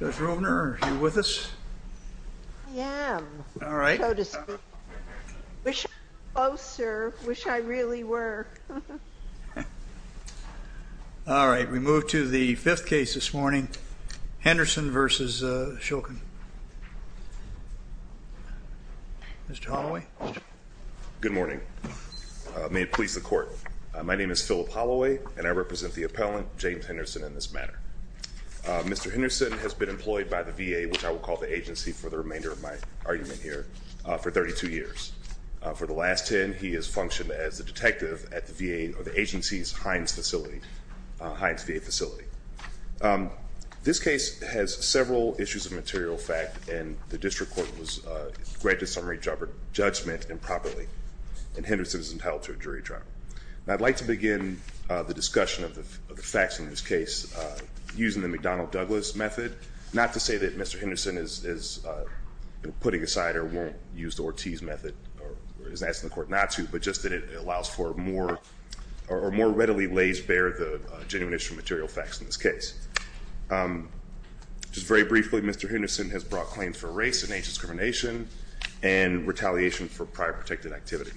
Judge Rovner, are you with us? I am. All right. Wish I was closer. Wish I really were. All right. We move to the fifth case this morning. Henderson v. Shulkin. Mr. Holloway. Good morning. May it please the court. My name is Philip Holloway and I represent the District Court. Mr. Shulkin has been employed by the VA, which I will call the agency for the remainder of my argument here for 32 years. For the last 10, he has functioned as a detective at the VA, or the agency's Heinz facility, Heinz VA facility. This case has several issues of material fact and the District Court was granted summary judgment improperly and Henderson is entitled to a jury trial. I'd like to begin the discussion of the facts in this case using the McDonnell-Douglas method. Not to say that Mr. Henderson is putting aside or won't use the Ortiz method, or is asking the court not to, but just that it allows for more, or more readily lays bare the genuine issue of material facts in this case. Just very briefly, Mr. Henderson has brought claims for race and age discrimination and retaliation for prior protected activity.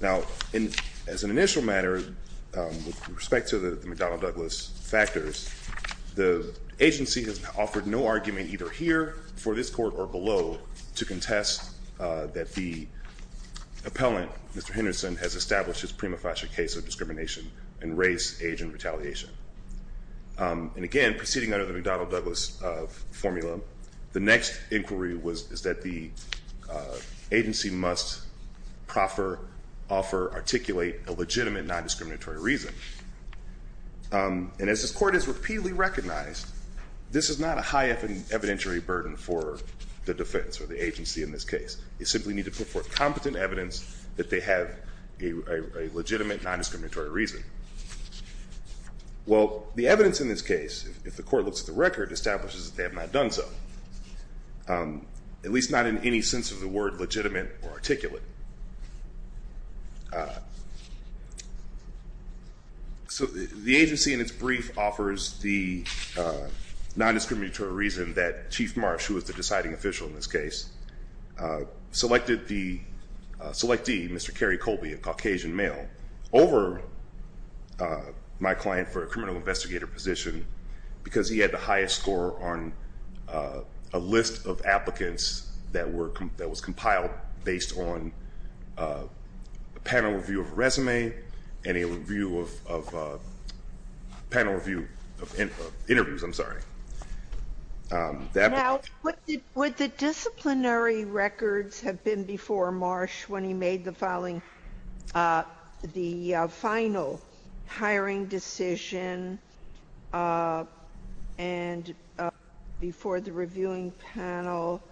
Now, as an initial matter, with respect to the McDonnell-Douglas factors, the agency has offered no argument either here, for this court, or below to contest that the appellant, Mr. Henderson, has established his prima facie case of discrimination in race, age, and retaliation. And again, proceeding under the McDonnell-Douglas formula, the next inquiry is that the agency must proffer, offer, articulate a legitimate non-discriminatory reason. And as this court has repeatedly recognized, this is not a high evidentiary burden for the defense or the agency in this case. You simply need to put forth competent evidence that they have a legitimate non-discriminatory reason. Well, the evidence in this case, if the court looks at the record, establishes that they have not done so. At least not in any sense of the word legitimate or articulate. So the agency in its brief offers the non-discriminatory reason that Chief Marsh, who was the deciding official in this case, selected the, selectee, Mr. Kerry Colby, a Caucasian male, over my client for a criminal investigator position because he had the highest score on a list of applicants that was compiled based on a panel review of a resume, and a review of, panel review of interviews, I'm sorry. Now, would the disciplinary records have been before Marsh when he made the following, the final hiring decision, and before the reviewing panel,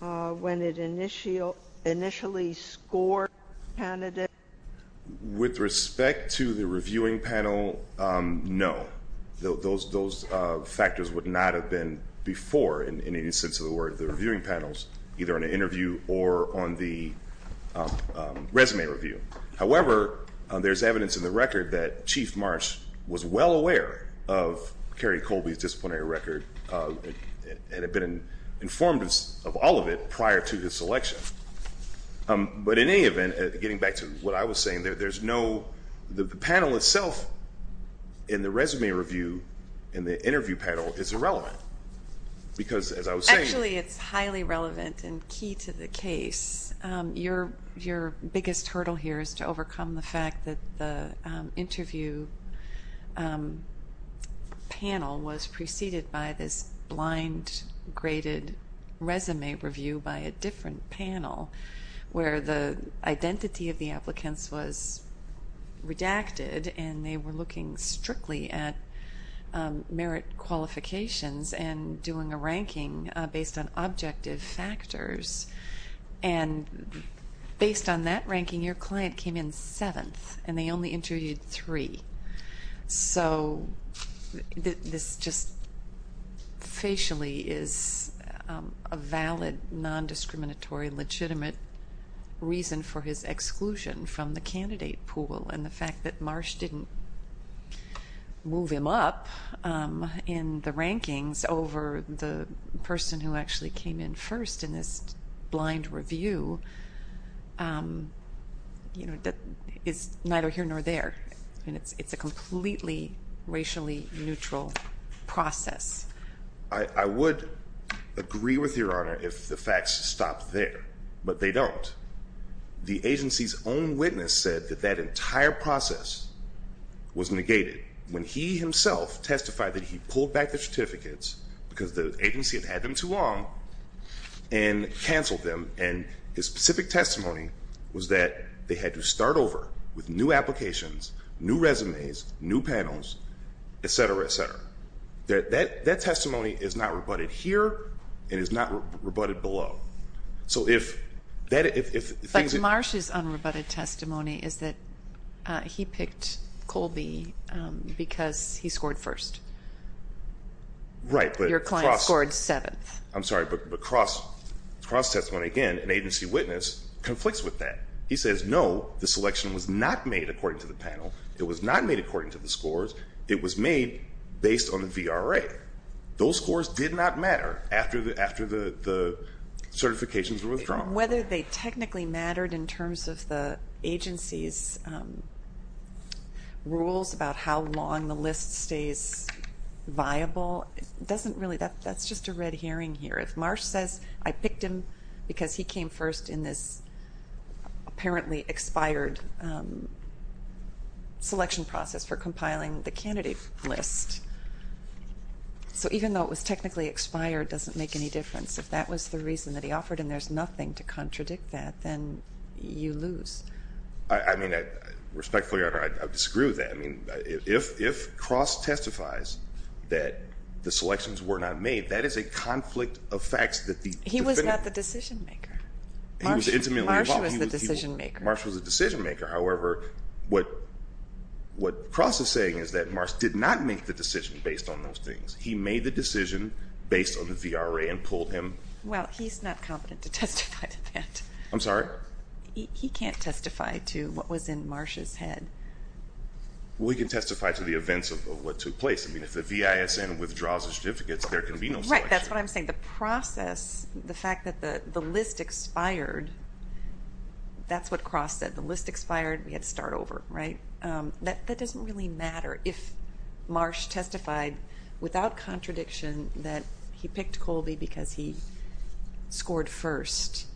when it initially scored candidates? With respect to the reviewing panel, no. Those factors would not have been before, in any sense of the word, the reviewing panels, either on an interview or on the resume review. However, there's evidence in the record that Chief Marsh was well aware of Kerry Colby's disciplinary record and had been informed of all of it prior to his selection. But in any event, getting back to what I was saying, there's no, the panel itself in the resume review, in the interview panel, is irrelevant. Because as I was saying- Actually, it's highly relevant and key to the case. Your biggest hurdle here is to overcome the fact that the interview panel was preceded by this blind graded resume review by a different panel, where the identity of the applicants was redacted and they were looking strictly at merit qualifications and doing a ranking based on objective factors. And based on that ranking, your client came in seventh, and they only interviewed three. So this just facially is a valid, non-discriminatory, legitimate reason for his exclusion from the candidate pool. And the fact that Marsh didn't move him up in the rankings over the person who actually came in first in this blind review, that is neither here nor there. And it's a completely racially neutral process. I would agree with your honor if the facts stop there, but they don't. The agency's own witness said that that entire process was negated when he himself testified that he pulled back the certificates because the agency had had them too long and canceled them, and his specific testimony was that they had to start over with new applications, new resumes, new panels, etc., etc. That testimony is not rebutted here, and is not rebutted below. So if things- But Marsh's unrebutted testimony is that he picked Colby because he scored first. Right, but- Your client scored seventh. I'm sorry, but cross-testimony again, an agency witness conflicts with that. He says no, the selection was not made according to the panel. It was not made according to the scores. It was made based on the VRA. Those scores did not matter after the certifications were withdrawn. Whether they technically mattered in terms of the agency's rules about how long the list stays viable, that's just a red herring here. If Marsh says, I picked him because he came first in this apparently expired selection process for compiling the candidate list. So even though it was technically expired, it doesn't make any difference. If that was the reason that he offered and there's nothing to contradict that, then you lose. I mean, respectfully, I disagree with that. I mean, if Cross testifies that the selections were not made, that is a conflict of facts that the- He was not the decision maker. He was intimately involved. Marsh was the decision maker. However, what Cross is saying is that Marsh did not make the decision based on those things. He made the decision based on the VRA and pulled him- Well, he's not competent to testify to that. I'm sorry? He can't testify to what was in Marsh's head. Well, he can testify to the events of what took place. I mean, if the VISN withdraws the certificates, there can be no selection. Right, that's what I'm saying. The process, the fact that the list expired, that's what Cross said. The list expired, we had to start over, right? That doesn't really matter if Marsh testified without contradiction that he picked Colby because he scored first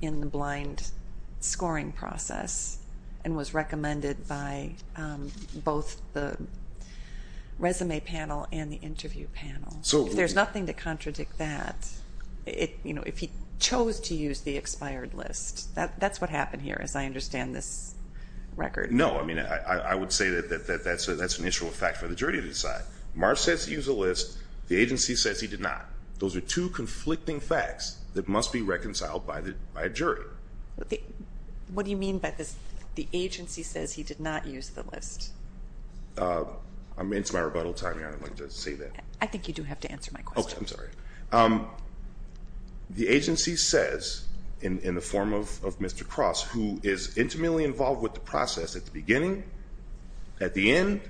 in the blind scoring process and was recommended by both the resume panel and the interview panel. So- If there's nothing to contradict that, if he chose to use the expired list, that's what happened here, as I understand this record. No, I mean, I would say that that's an issue of fact for the jury to decide. Marsh says he used the list, the agency says he did not. Those are two conflicting facts that must be reconciled by a jury. What do you mean by this, the agency says he did not use the list? I'm into my rebuttal time here, I don't like to say that. I think you do have to answer my question. Okay, I'm sorry. The agency says, in the form of Mr. Cross, who is intimately involved with the process at the beginning, at the end,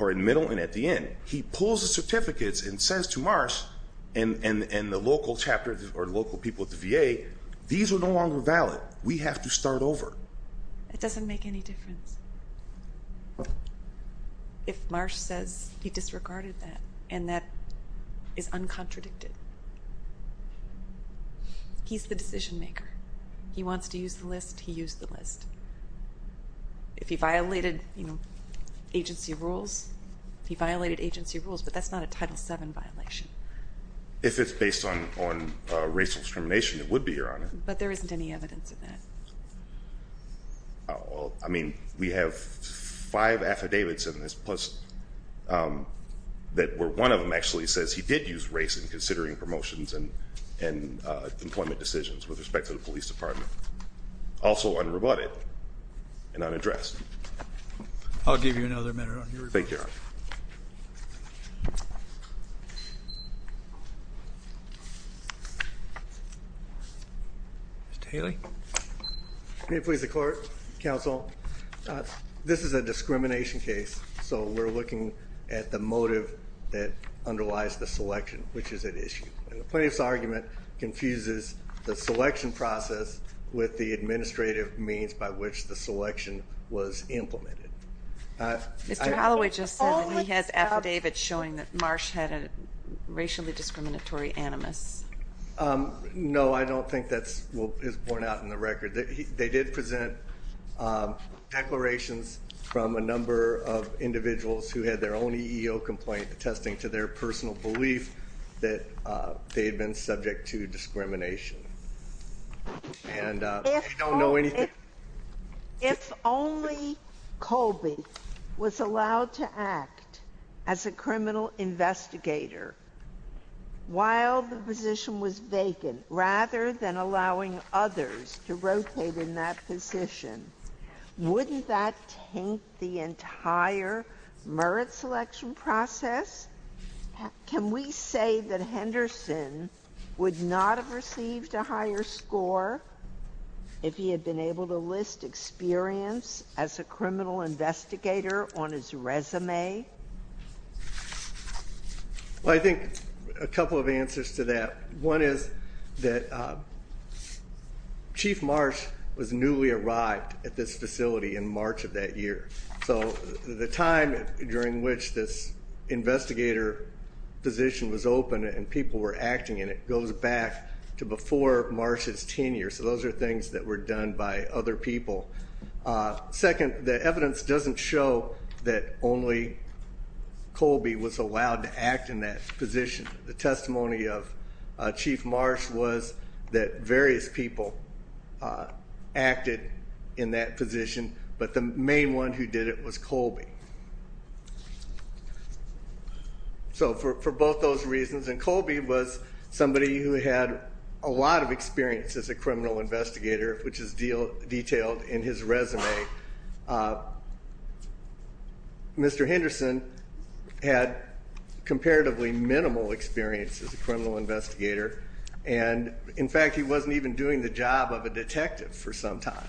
or in the middle and at the end. He pulls the certificates and says to Marsh and the local chapter, or local people at the VA, these are no longer valid, we have to start over. It doesn't make any difference. If Marsh says he disregarded that, and that is uncontradicted, he's the decision maker. He wants to use the list, he used the list. If he violated agency rules, he violated agency rules, but that's not a Title VII violation. If it's based on racial discrimination, it would be, Your Honor. But there isn't any evidence of that. I mean, we have five affidavits in this, plus that where one of them actually says he did use race in considering promotions and employment decisions with respect to the police department, also unrebutted and unaddressed. I'll give you another minute on your rebuttal. Thank you, Your Honor. Mr. Haley? May it please the court, counsel? This is a discrimination case, so we're looking at the motive that underlies the selection, which is at issue, and the plaintiff's argument confuses the selection process with the administrative means by which the selection was implemented. Mr. Halloway just said that he has affidavits showing that Marsh had a racially discriminatory animus. No, I don't think that's what is borne out in the record. They did present declarations from a number of individuals who had their own EEO complaint attesting to their personal belief that they had been subject to discrimination. And they don't know anything. If only Colby was allowed to act as a criminal investigator while the position was vacant, rather than allowing others to rotate in that position, wouldn't that taint the entire merit selection process? Can we say that Henderson would not have received a higher score if he had been able to list experience as a criminal investigator on his resume? Well, I think a couple of answers to that. One is that Chief Marsh was newly arrived at this facility in March of that year, so the time during which this investigator position was open and people were acting in it goes back to before Marsh's tenure. So those are things that were done by other people. Second, the evidence doesn't show that only Colby was allowed to act in that position. The testimony of Chief Marsh was that various people acted in that position, but the main one who did it was Colby. So for both those reasons, and Colby was somebody who had a lot of experience as a criminal investigator, which is detailed in his resume. Mr. Henderson had comparatively minimal experience as a criminal investigator, and in fact, he wasn't even doing the job of a detective for some time.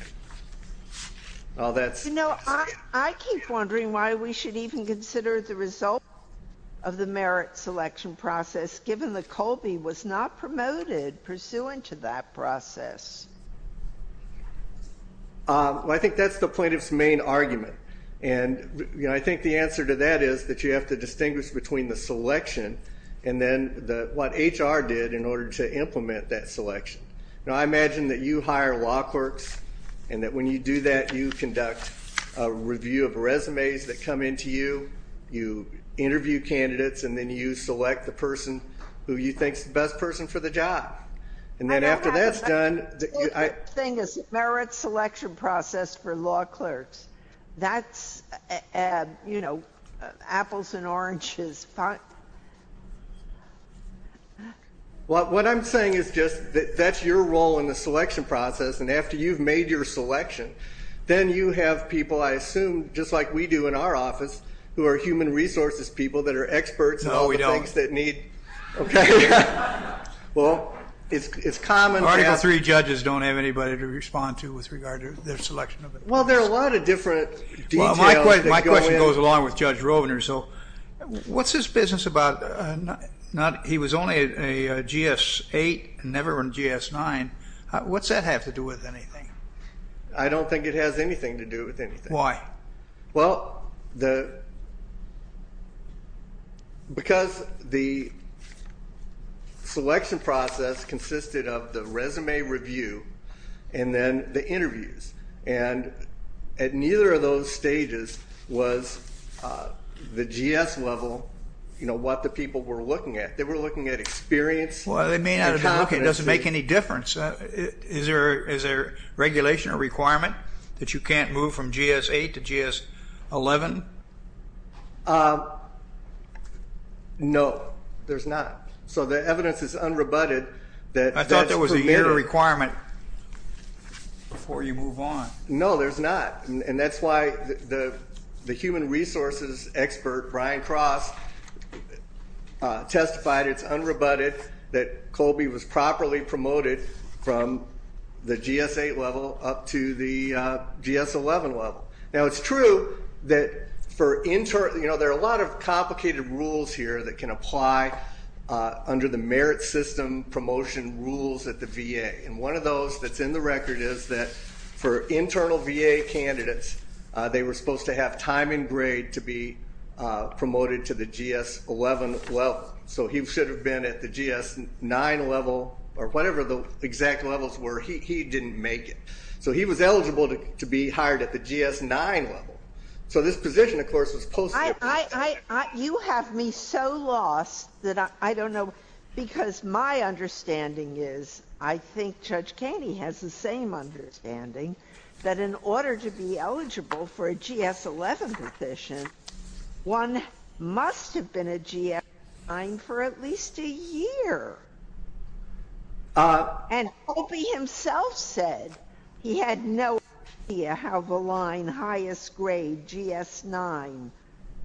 You know, I keep wondering why we should even consider the result of the merit selection process given that Colby was not promoted pursuant to that process. Well, I think that's the plaintiff's main argument. And I think the answer to that is that you have to distinguish between the selection and then what HR did in order to implement that selection. You know, I imagine that you hire law clerks, and that when you do that, you conduct a review of resumes that come in to you, you interview candidates, and then you select the person who you think is the best person for the job. And then after that's done— The thing is, the merit selection process for law clerks, that's, you know, apples and oranges. Well, what I'm saying is just that that's your role in the selection process, and after you've made your selection, then you have people, I assume, just like we do in our office, who are human resources people that are experts No, we don't. Okay. Well, it's common to have— Article III judges don't have anybody to respond to with regard to their selection. Well, there are a lot of different details that go in. So what's this business about he was only a GS-8 and never a GS-9? What's that have to do with anything? I don't think it has anything to do with anything. Why? Well, because the selection process consisted of the resume review and then the interviews, and at neither of those stages was the GS level, you know, what the people were looking at. They were looking at experience and competency. Well, they may not have been looking. It doesn't make any difference. Is there regulation or requirement that you can't move from GS-8 to GS-11? No, there's not. So the evidence is unrebutted that that's permitted. Is there a requirement before you move on? No, there's not. And that's why the human resources expert, Brian Cross, testified it's unrebutted that Colby was properly promoted from the GS-8 level up to the GS-11 level. Now, it's true that there are a lot of complicated rules here that can apply under the merit system promotion rules at the VA, and one of those that's in the record is that for internal VA candidates, they were supposed to have time and grade to be promoted to the GS-11 level, so he should have been at the GS-9 level or whatever the exact levels were. He didn't make it. So he was eligible to be hired at the GS-9 level. So this position, of course, was posted. You have me so lost that I don't know, because my understanding is, I think Judge Caney has the same understanding, that in order to be eligible for a GS-11 position, one must have been a GS-9 for at least a year. And Colby himself said he had no idea how the line highest grade, GS-9,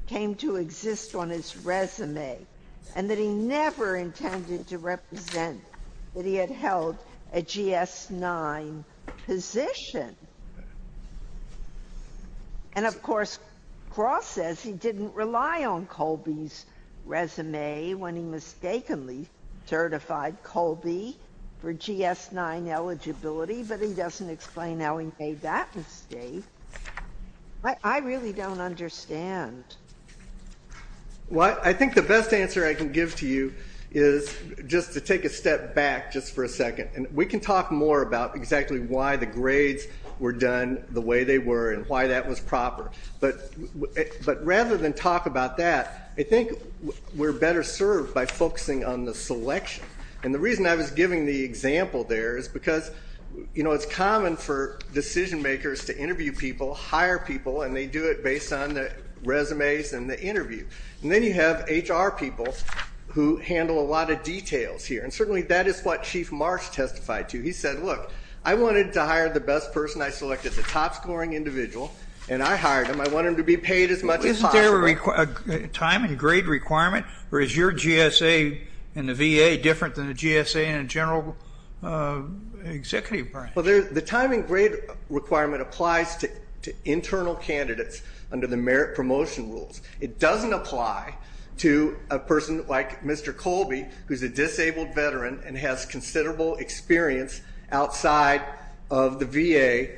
came to exist on his resume, and that he never intended to represent that he had held a GS-9 position. And, of course, Cross says he didn't rely on Colby's resume when he mistakenly certified Colby for GS-9 eligibility, but he doesn't explain how he made that mistake. I really don't understand. Well, I think the best answer I can give to you is just to take a step back just for a second, and we can talk more about exactly why the grades were done the way they were and why that was proper. But rather than talk about that, I think we're better served by focusing on the selection. And the reason I was giving the example there is because, you know, it's common for decision-makers to interview people, hire people, and they do it based on the resumes and the interview. And then you have HR people who handle a lot of details here. And certainly that is what Chief Marsh testified to. He said, look, I wanted to hire the best person. I selected the top-scoring individual, and I hired him. I want him to be paid as much as possible. Isn't there a time and grade requirement, or is your GSA and the VA different than the GSA and general executive branch? Well, the time and grade requirement applies to internal candidates under the merit promotion rules. It doesn't apply to a person like Mr. Colby, who's a disabled veteran and has considerable experience outside of the VA.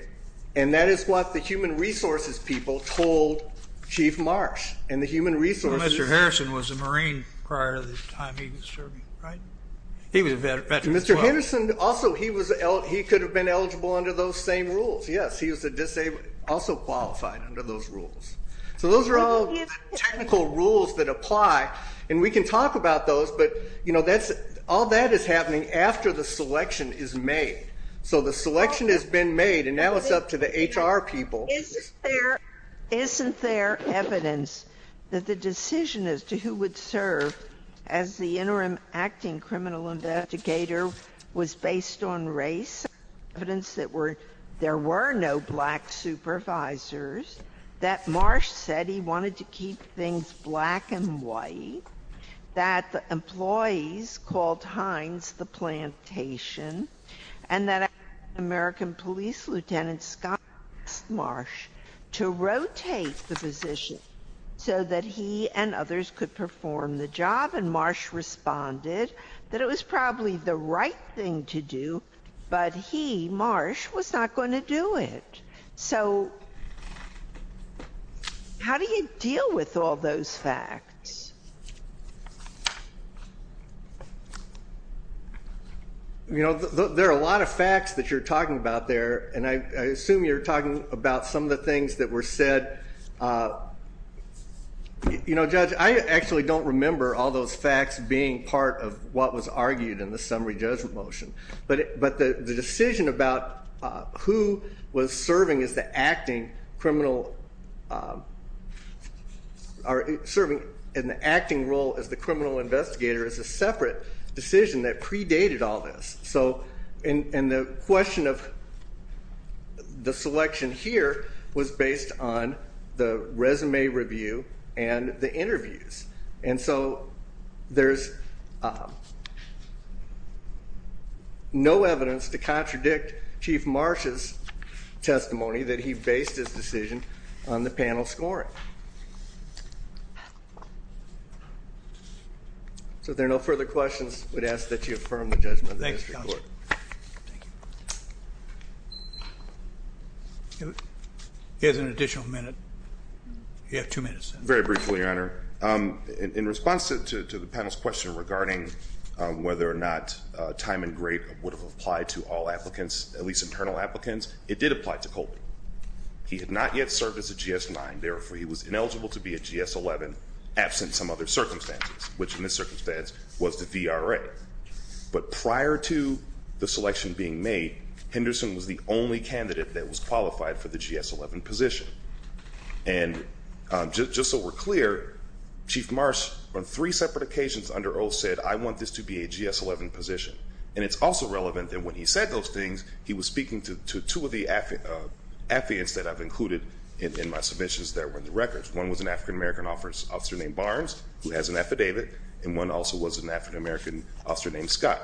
And that is what the human resources people told Chief Marsh. And the human resources ---- Well, Mr. Harrison was a Marine prior to the time he was serving, right? He was a veteran as well. Mr. Henderson also, he could have been eligible under those same rules. Yes, he was also qualified under those rules. So those are all technical rules that apply, and we can talk about those, but all that is happening after the selection is made. So the selection has been made, and now it's up to the HR people. Isn't there evidence that the decision as to who would serve as the interim acting criminal investigator was based on race, evidence that there were no black supervisors, that Marsh said he wanted to keep things black and white, that the employees called Hines the plantation, and that American Police Lieutenant Scott asked Marsh to rotate the position so that he and others could perform the job? And Marsh responded that it was probably the right thing to do, but he, Marsh, was not going to do it. So how do you deal with all those facts? You know, there are a lot of facts that you're talking about there, and I assume you're talking about some of the things that were said. You know, Judge, I actually don't remember all those facts being part of what was argued in the summary judgment motion, but the decision about who was serving in the acting role as the criminal investigator is a separate decision that predated all this. And the question of the selection here was based on the resume review and the interviews. And so there's no evidence to contradict Chief Marsh's testimony that he based his decision on the panel scoring. So if there are no further questions, I would ask that you affirm the judgment of the district court. Thank you, counsel. Here's an additional minute. You have two minutes. Very briefly, Your Honor. In response to the panel's question regarding whether or not time and grade would have applied to all applicants, at least internal applicants, it did apply to Colton. He had not yet served as a GS-9, therefore he was ineligible to be a GS-11, absent some other circumstances, which in this circumstance was the VRA. But prior to the selection being made, Henderson was the only candidate that was qualified for the GS-11 position. And just so we're clear, Chief Marsh on three separate occasions under oath said, I want this to be a GS-11 position. And it's also relevant that when he said those things, he was speaking to two of the affidavits that I've included in my submissions that were in the records. One was an African-American officer named Barnes, who has an affidavit, and one also was an African-American officer named Scott,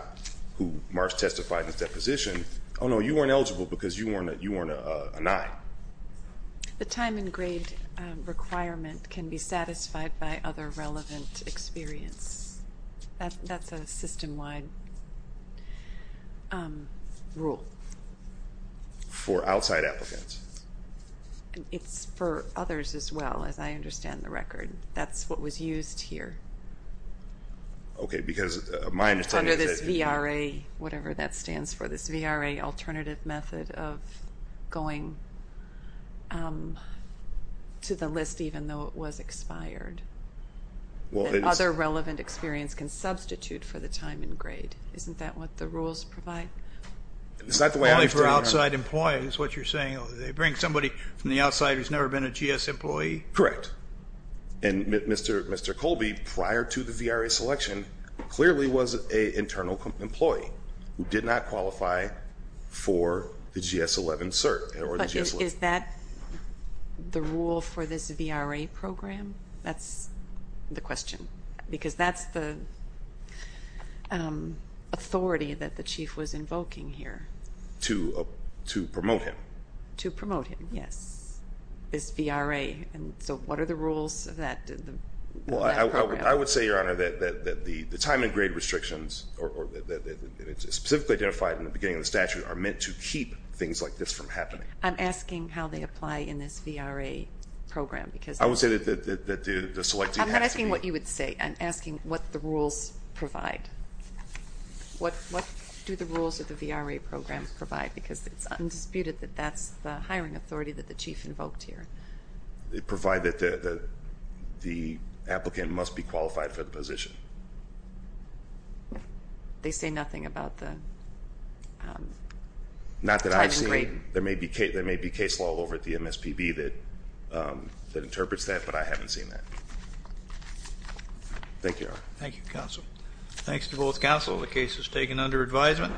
who Marsh testified in his deposition, oh, no, you weren't eligible because you weren't a 9. The time and grade requirement can be satisfied by other relevant experience. That's a system-wide rule. For outside applicants. It's for others as well, as I understand the record. That's what was used here. Okay, because my understanding is that you can't. Under this VRA, whatever that stands for, this VRA alternative method of going to the list even though it was expired. Well, it is. Other relevant experience can substitute for the time and grade. Isn't that what the rules provide? It's not the way I understand it. Only for outside employees, what you're saying. They bring somebody from the outside who's never been a GS employee? Correct. And Mr. Colby, prior to the VRA selection, clearly was an internal employee who did not qualify for the GS-11 cert. Is that the rule for this VRA program? That's the question. Because that's the authority that the Chief was invoking here. To promote him. To promote him, yes. This VRA. So what are the rules of that program? I would say, Your Honor, that the time and grade restrictions, specifically identified in the beginning of the statute, are meant to keep things like this from happening. I'm asking how they apply in this VRA program. I would say that the selectee has to be. I'm not asking what you would say. I'm asking what the rules provide. What do the rules of the VRA program provide? Because it's undisputed that that's the hiring authority that the Chief invoked here. They provide that the applicant must be qualified for the position. They say nothing about the time and grade. Not that I've seen. There may be case law over at the MSPB that interprets that, but I haven't seen that. Thank you, Your Honor. Thank you, Counsel. Thanks to both counsel. The case is taken under advisement.